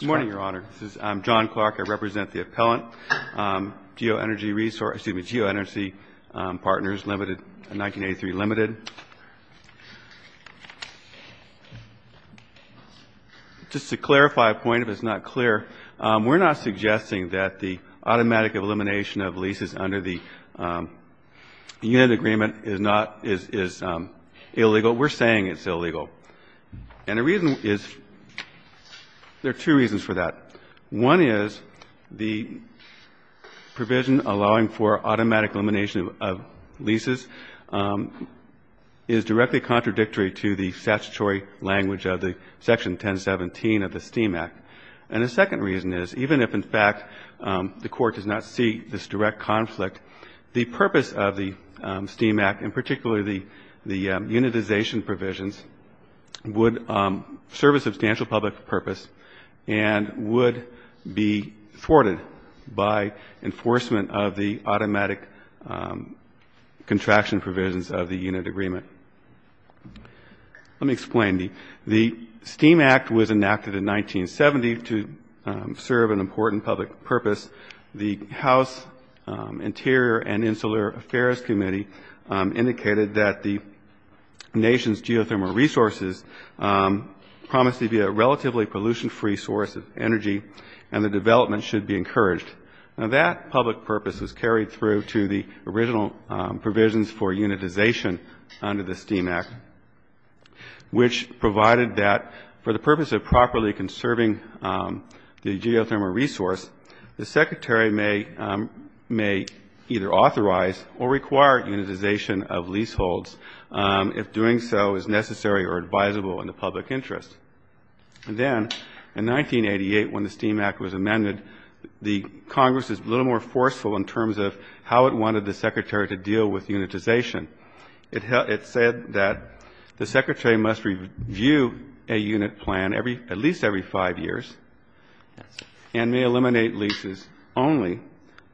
Good morning, Your Honor. I'm John Clark. I represent the appellant, Geo-Energy Partners-1983 Ltd. Just to clarify a point, if it's not clear, we're not suggesting that the automatic elimination of leases under the unit agreement is not, is illegal. We're saying it's illegal. And the reason is, there are two reasons for that. One is the provision allowing for automatic elimination of leases is directly contradictory to the statutory language of the Section 1017 of the STEAM Act. And the second reason is, even if, in fact, the Court does not see this direct conflict, the purpose of the STEAM Act, and particularly the unitization provisions, would serve a substantial public purpose and would be thwarted by enforcement of the automatic contraction provisions of the unit agreement. Let me explain. The STEAM Act was enacted in 1970 to serve an important public purpose. The House Interior and Insular Affairs Committee indicated that the nation's geothermal resources promised to be a relatively pollution-free source of energy, and the development should be encouraged. Now, that public purpose was carried through to the original provisions for unitization under the STEAM Act, which provided that for the purpose of properly conserving the geothermal resource, the Secretary may either authorize or require unitization of leaseholds if doing so is necessary or advisable in the public interest. And then, in 1988, when the STEAM Act was amended, the Congress was a little more forceful in terms of how it wanted the Secretary to deal with unitization. It said that the Secretary must review a unit plan at least every five years and may eliminate leases only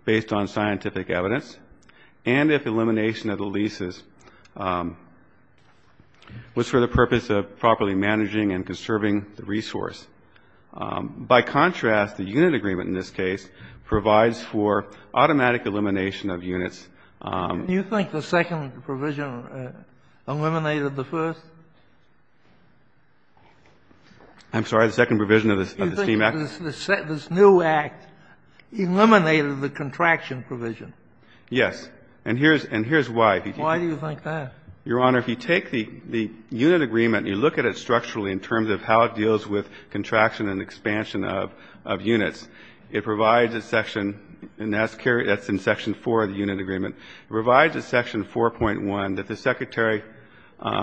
based on scientific evidence, and if elimination of the leases was for the purpose of properly managing and conserving the resource. By contrast, the unit agreement in this case provides for automatic elimination of units. Do you think the second provision eliminated the first? I'm sorry? The second provision of the STEAM Act? Do you think this new Act eliminated the contraction provision? Yes. And here's why. Why do you think that? Your Honor, if you take the unit agreement and you look at it structurally in terms of how it deals with contraction and expansion of units, it provides a section, and that's in section 4 of the unit agreement, it provides a section 4.1 that the Secretary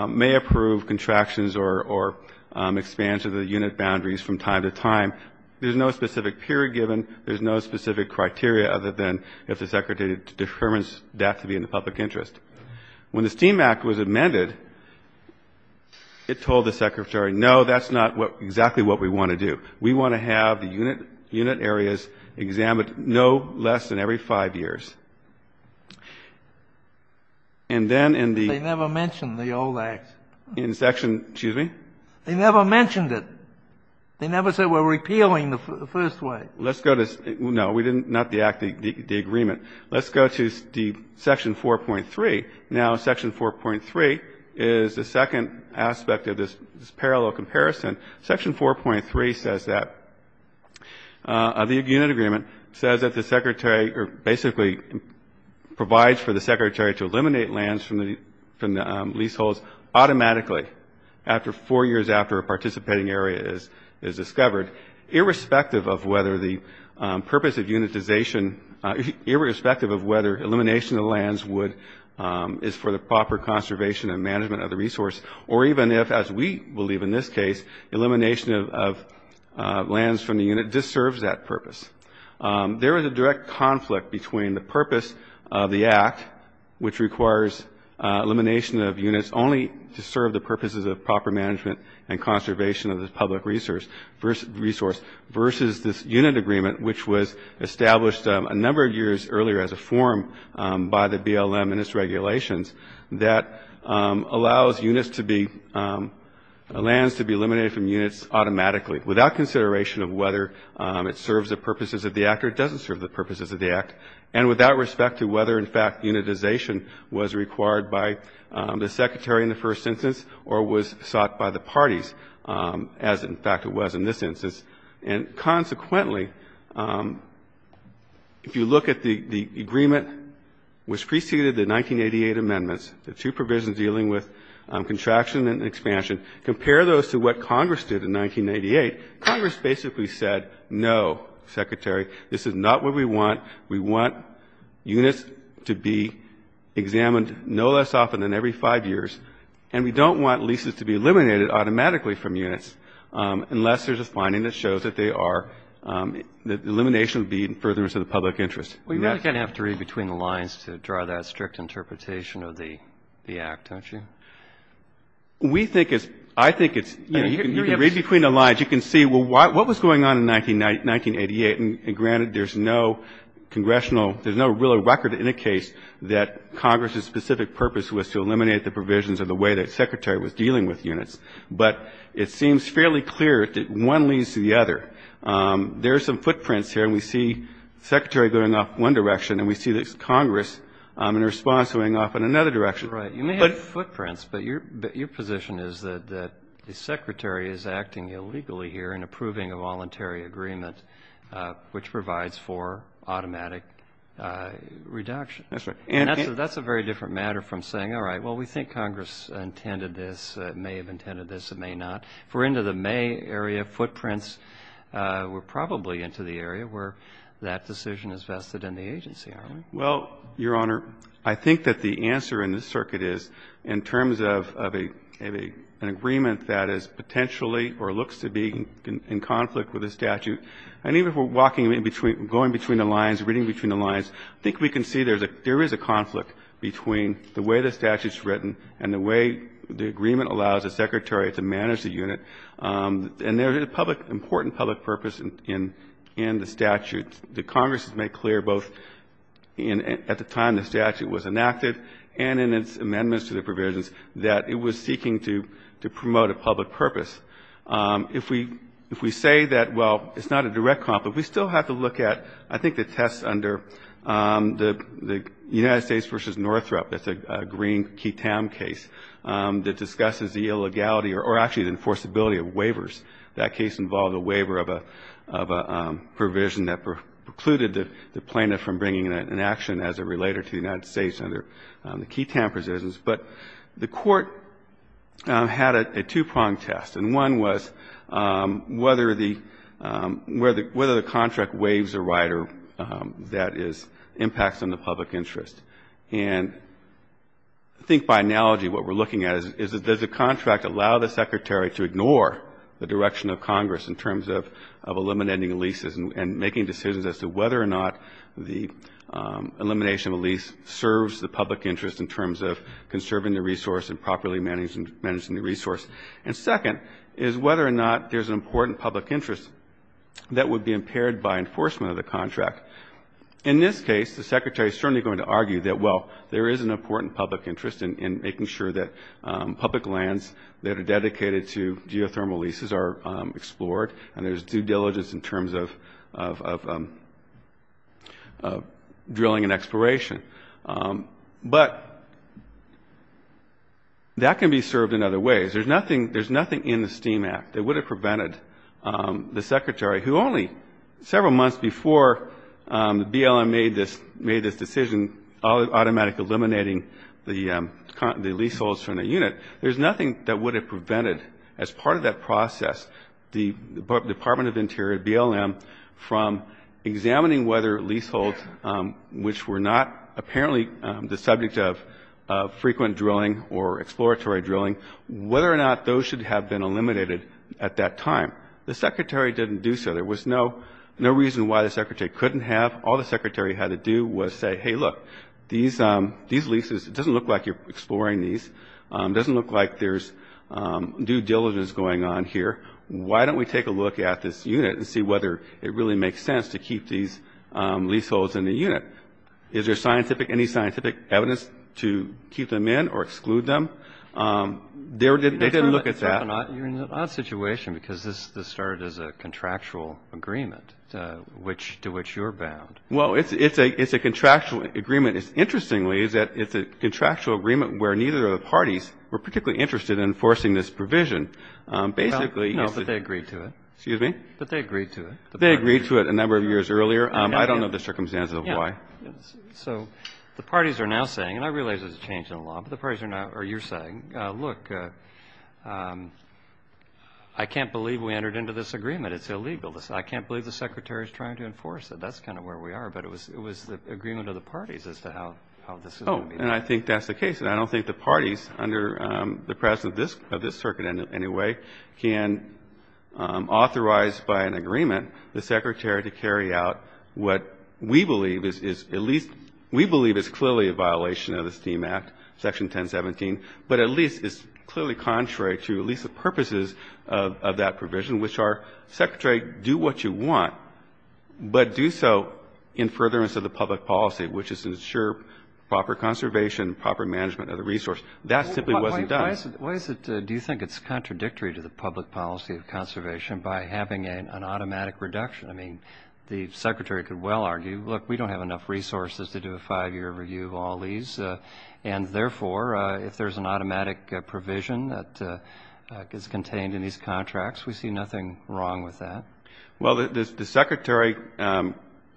may approve contractions or expansion of the unit boundaries from time to time. There's no specific period given. There's no specific criteria other than if the Secretary determines that to be in the public interest. When the STEAM Act was amended, it told the Secretary, no, that's not exactly what we want to do. We want to have the unit areas examined no less than every five years. And then in the ---- They never mentioned the old Act. In section ---- excuse me? They never mentioned it. They never said we're repealing the first way. Let's go to ---- no, we didn't. Not the Act, the agreement. Let's go to the section 4.3. Now, section 4.3 is the second aspect of this parallel comparison. Section 4.3 says that the unit agreement says that the Secretary basically provides for the Secretary to eliminate lands from the leaseholds automatically after four years after a participating area is discovered, irrespective of whether the purpose of unitization ---- irrespective of whether elimination of lands would ---- is for the proper conservation and management of the resource, or even if, as we believe in this case, elimination of lands from the unit disturbs that purpose. There is a direct conflict between the purpose of the Act, which requires elimination of units, only to serve the purposes of proper management and conservation of the public resource, versus this unit agreement, which was established a number of years earlier as a form by the BLM and its regulations that allows units to be ---- lands to be eliminated from units automatically, without consideration of whether it serves the purposes of the Act or it doesn't serve the purposes of the Act, and without respect to whether, in fact, unitization was required by the Secretary in the first instance or was sought by the parties, as, in fact, it was in this instance. And consequently, if you look at the agreement which preceded the 1988 amendments, the two provisions dealing with contraction and expansion, compare those to what Congress did in 1988. Congress basically said, no, Secretary, this is not what we want. We want units to be examined no less often than every five years. And we don't want leases to be eliminated automatically from units unless there's a finding that shows that they are ---- that elimination would be in furtherance of the public interest. And that's ---- Roberts. Well, you really kind of have to read between the lines to draw that strict interpretation of the Act, don't you? We think it's ---- I think it's, you know, you can read between the lines. You can see, well, what was going on in 1988? And granted, there's no congressional ---- there's no real record in the case that Congress's specific purpose was to eliminate the provisions of the way that the Secretary was dealing with units. But it seems fairly clear that one leads to the other. There are some footprints here, and we see the Secretary going off in one direction, and we see this Congress in response going off in another direction. Right. You may have footprints, but your position is that the Secretary is acting illegally here in approving a voluntary agreement which provides for automatic reduction. That's right. And that's a very different matter from saying, all right, well, we think Congress intended this, may have intended this, it may not. If we're into the May area, footprints were probably into the area where that decision is vested in the agency, aren't they? Well, Your Honor, I think that the answer in this circuit is, in terms of an agreement that is potentially or looks to be in conflict with a statute, and even if we're walking in between, going between the lines, reading between the lines, I think we can see there is a conflict between the way the statute is written and the way the agreement allows the Secretary to manage the unit. And there is a public ---- important public purpose in the statute. The Congress has made clear both at the time the statute was enacted and in its amendments to the provisions that it was seeking to promote a public purpose. If we say that, well, it's not a direct conflict, we still have to look at, I think, the tests under the United States v. Northrop. That's a Green-Keaton case that discusses the illegality or actually the enforceability of waivers. That case involved a waiver of a provision that precluded the plaintiff from bringing an action as a relater to the United States under the Keaton provisions. But the Court had a two-pronged test, and one was whether the ---- whether the contract waives a right or that is ---- impacts on the public interest. And I think by analogy what we're looking at is, does the contract allow the Secretary to ignore the direction of Congress in terms of eliminating leases and making decisions as to whether or not the elimination of a lease serves the public interest in terms of conserving the resource and properly managing the resource? And second is whether or not there's an important public interest that would be impaired by enforcement of the contract. In this case, the Secretary is certainly going to argue that, well, there is an important public interest in making sure that public lands that are dedicated to geothermal leases are explored and there's due diligence in terms of drilling and exploration. But that can be served in other ways. There's nothing in the STEAM Act that would have prevented the Secretary, who only several months before BLM made this decision, automatically eliminating the leaseholds from the process, the Department of Interior, BLM, from examining whether leaseholds, which were not apparently the subject of frequent drilling or exploratory drilling, whether or not those should have been eliminated at that time. The Secretary didn't do so. There was no reason why the Secretary couldn't have. All the Secretary had to do was say, hey, look, these leases, it doesn't look like you're going to be here. Why don't we take a look at this unit and see whether it really makes sense to keep these leaseholds in the unit? Is there scientific, any scientific evidence to keep them in or exclude them? They didn't look at that. You're in an odd situation, because this started as a contractual agreement, to which you're bound. Well, it's a contractual agreement. Interestingly, it's a contractual agreement where neither of the parties were particularly interested in enforcing this provision. But they agreed to it. Excuse me? But they agreed to it. They agreed to it a number of years earlier. I don't know the circumstances of why. So the parties are now saying, and I realize there's a change in the law, but the parties are now, or you're saying, look, I can't believe we entered into this agreement. It's illegal. I can't believe the Secretary's trying to enforce it. That's kind of where we are. But it was the agreement of the parties as to how this is going to be. Oh, and I think that's the case. And I don't think the parties under the presence of this circuit in any way can authorize by an agreement the Secretary to carry out what we believe is at least, we believe is clearly a violation of the STEAM Act, Section 1017, but at least is clearly contrary to at least the purposes of that provision, which are, Secretary, do what you want, but do so in furtherance of the public policy, which is to ensure proper conservation, proper management of the resource. That simply wasn't done. Why is it, do you think it's contradictory to the public policy of conservation by having an automatic reduction? I mean, the Secretary could well argue, look, we don't have enough resources to do a five-year review of all these, and therefore if there's an automatic provision that is contained in these contracts, we see nothing wrong with that. Well, the Secretary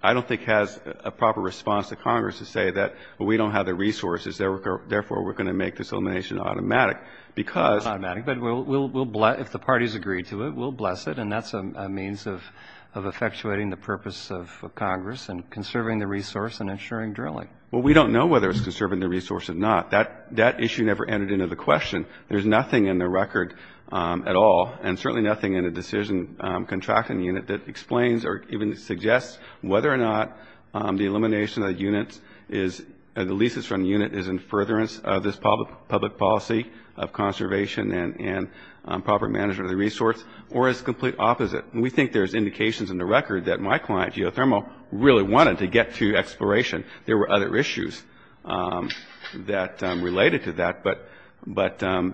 I don't think has a proper response to Congress to say that we don't have the resources, therefore we're going to make this elimination automatic, because we'll bless, if the parties agree to it, we'll bless it, and that's a means of effectuating the purpose of Congress and conserving the resource and ensuring drilling. Well, we don't know whether it's conserving the resource or not. That issue never entered into the question. There's nothing in the record at all, and certainly nothing in the decision contracting unit that explains or even suggests whether or not the elimination of the units is, the leases from the unit is in furtherance of this public policy of conservation and proper management of the resource, or it's the complete opposite. We think there's indications in the record that my client, Geothermal, really wanted to get to exploration. There were other issues that related to that, but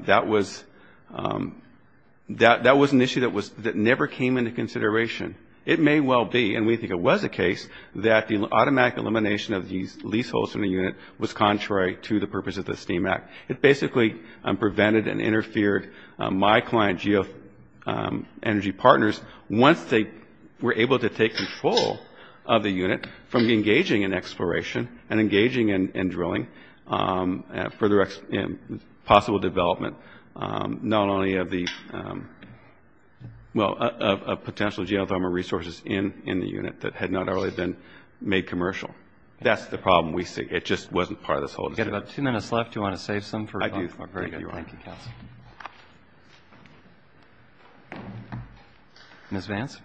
that was an issue that never came into consideration. It may well be, and we think it was the case, that the automatic elimination of these leaseholds from the unit was contrary to the purpose of the STEAM Act. It basically prevented and interfered my client, Geoenergy Partners, once they were able to take control of the unit from engaging in exploration and engaging in drilling for the possible development not only of the, well, of potential geothermal resources in the unit that had not already been made commercial. That's the problem we see. It just wasn't part of the solution. We've got about two minutes left. Do you want to save some? I do. Very good. Thank you, counsel. Ms. Vance?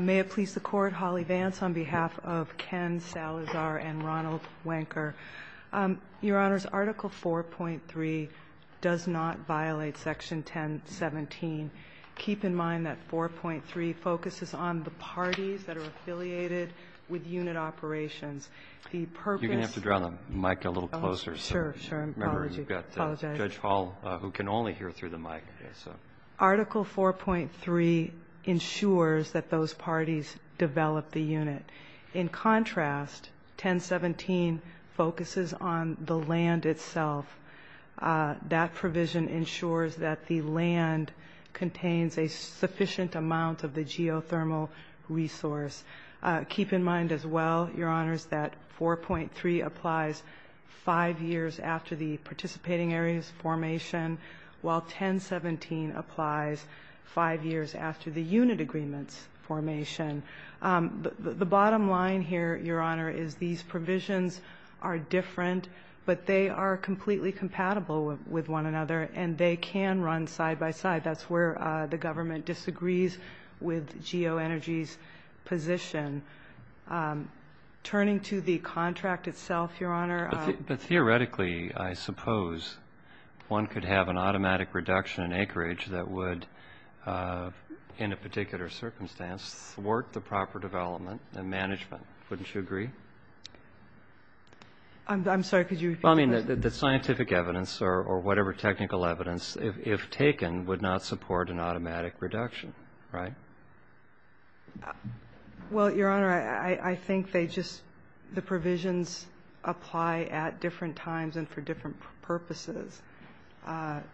May it please the Court. Holly Vance on behalf of Ken Salazar and Ronald Wanker. Your Honors, Article 4.3 does not violate Section 1017. Keep in mind that 4.3 focuses on the parties that are affiliated with unit operations. The purpose of the parties that are affiliated with unit operations. You're going to have to draw the mic a little closer. Sure, sure. I apologize. Remember, you've got Judge Hall who can only hear through the mic. Article 4.3 ensures that those parties develop the unit. In contrast, 1017 focuses on the land itself. That provision ensures that the land contains a sufficient amount of the geothermal resource. Keep in mind as well, Your Honors, that 4.3 applies five years after the participating areas formation, while 1017 applies five years after the unit agreements formation. The bottom line here, Your Honor, is these provisions are different, but they are completely compatible with one another, and they can run side by side. That's where the government disagrees with geoenergy's position. Turning to the contract itself, Your Honor. But theoretically, I suppose one could have an automatic reduction in acreage that would, in a particular circumstance, thwart the proper development and management. Wouldn't you agree? I'm sorry. Could you repeat the question? I mean, the scientific evidence or whatever technical evidence, if taken, would not support an automatic reduction, right? Well, Your Honor, I think they just, the provisions apply at different times and for different purposes. The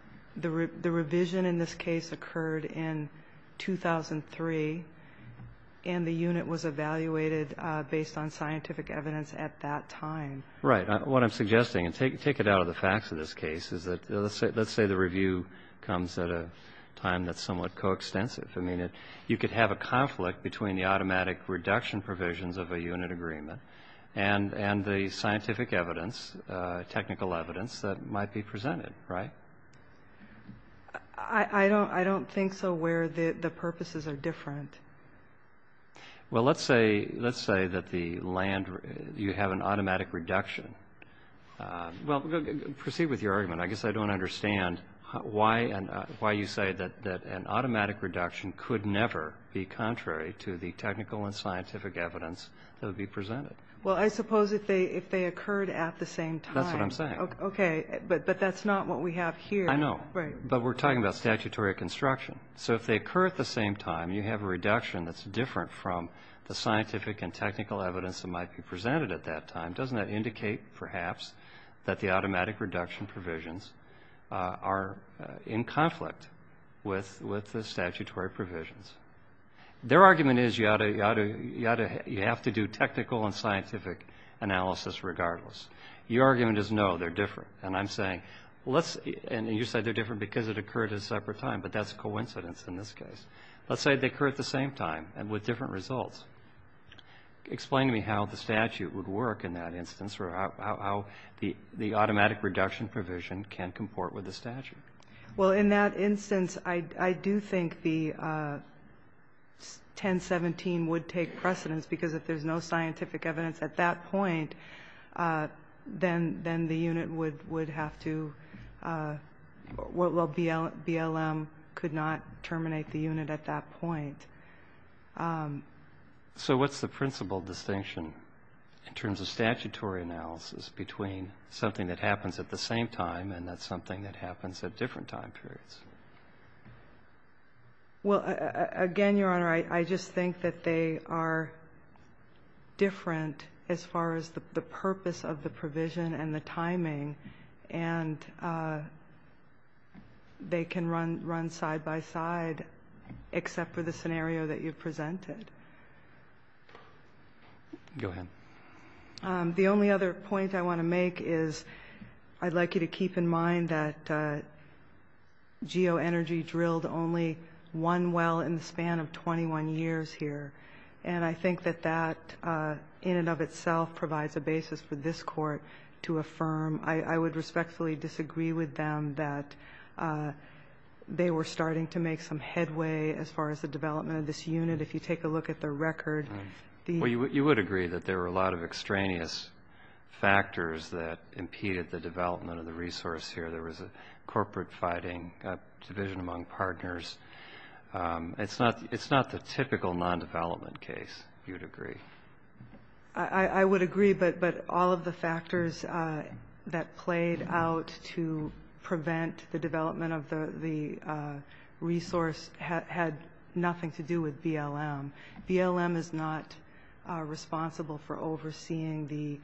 revision in this case occurred in 2003, and the unit was evaluated based on scientific evidence at that time. Right. What I'm suggesting, and take it out of the facts of this case, is that let's say the review comes at a time that's somewhat coextensive. I mean, you could have a conflict between the automatic reduction provisions of a unit agreement and the scientific evidence, technical evidence that might be presented, right? I don't think so where the purposes are different. Well, let's say that the land, you have an automatic reduction. Well, proceed with your argument. I guess I don't understand why you say that an automatic reduction could never be contrary to the technical and scientific evidence that would be presented. Well, I suppose if they occurred at the same time. That's what I'm saying. Okay. But that's not what we have here. I know. Right. But we're talking about statutory construction. So if they occur at the same time, you have a reduction that's different from the scientific and technical evidence that might be presented at that time. Doesn't that indicate, perhaps, that the automatic reduction provisions are in conflict with the statutory provisions? Their argument is you have to do technical and scientific analysis regardless. Your argument is, no, they're different. And I'm saying, and you said they're different because it occurred at a separate time, but that's a coincidence in this case. Let's say they occur at the same time and with different results. Explain to me how the statute would work in that instance, or how the automatic reduction provision can comport with the statute. Well, in that instance, I do think the 1017 would take precedence, because if there's no scientific evidence at that point, then the unit would have to Well, BLM could not terminate the unit at that point. So what's the principal distinction, in terms of statutory analysis, between something that happens at the same time and something that happens at different time periods? Well, again, Your Honor, I just think that they are different and they can run side-by-side, except for the scenario that you've presented. Go ahead. The only other point I want to make is I'd like you to keep in mind that geoenergy drilled only one well in the span of 21 years here, and I think that that, in and of itself, provides a basis for this Court to affirm. I would respectfully disagree with them that they were starting to make some headway as far as the development of this unit. If you take a look at their record, the Well, you would agree that there were a lot of extraneous factors that impeded the development of the resource here. There was a corporate fighting, division among partners. It's not the typical non-development case, if you would agree. I would agree, but all of the factors that played out to prevent the development of the resource had nothing to do with BLM. BLM is not responsible for overseeing the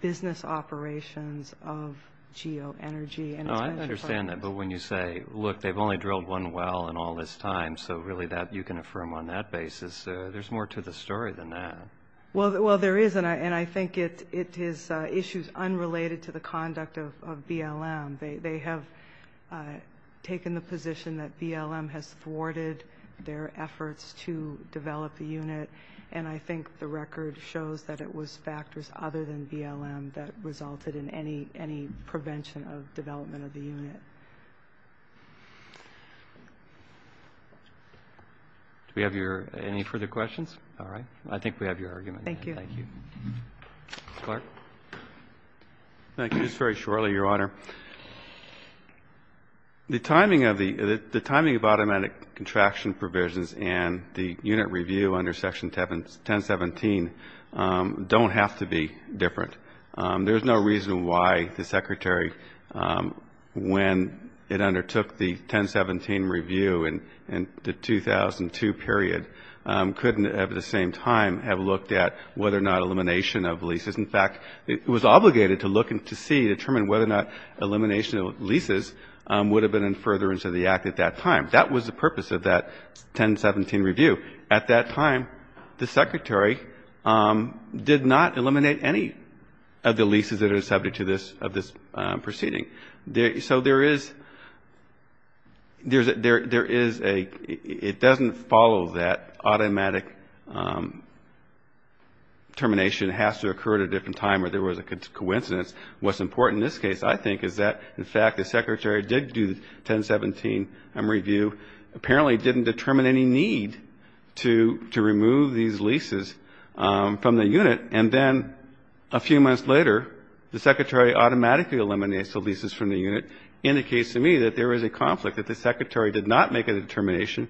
business operations of geoenergy. I understand that, but when you say, look, they've only drilled one well in all this time, so really you can affirm on that basis. There's more to the story than that. Well, there is, and I think it is issues unrelated to the conduct of BLM. They have taken the position that BLM has thwarted their efforts to develop the unit, and I think the record shows that it was factors other than BLM that resulted in any prevention of development of the unit. Do we have any further questions? All right. I think we have your argument. Thank you. Thank you. Mr. Clark. Thank you. Just very shortly, Your Honor. The timing of automatic contraction provisions and the unit review under Section 1017 don't have to be different. There's no reason why the Secretary, when it undertook the 1017 review in the 2002 period, couldn't at the same time have looked at whether or not elimination of leases. In fact, it was obligated to look and to see, determine whether or not elimination of leases would have been in furtherance of the act at that time. That was the purpose of that 1017 review. At that time, the Secretary did not eliminate any of the leases that are subject to this proceeding. So there is a ‑‑ it doesn't follow that automatic termination has to occur at a different time or there was a coincidence. What's important in this case, I think, is that, in fact, the Secretary did do the 1017 review. Apparently didn't determine any need to remove these leases from the unit. And then a few months later, the Secretary automatically eliminates the leases from the unit. Indicates to me that there is a conflict, that the Secretary did not make a determination,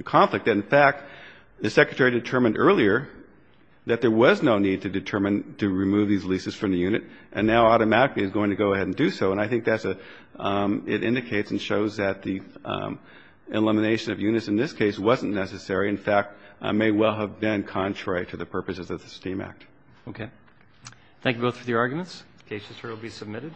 a conflict. In fact, the Secretary determined earlier that there was no need to determine to remove these leases from the unit. And now automatically is going to go ahead and do so. And I think that's a ‑‑ it indicates and shows that the elimination of units in this case wasn't necessary. In fact, may well have been contrary to the purposes of the STEAM Act. Okay. Thank you both for your arguments. The case is currently submitted.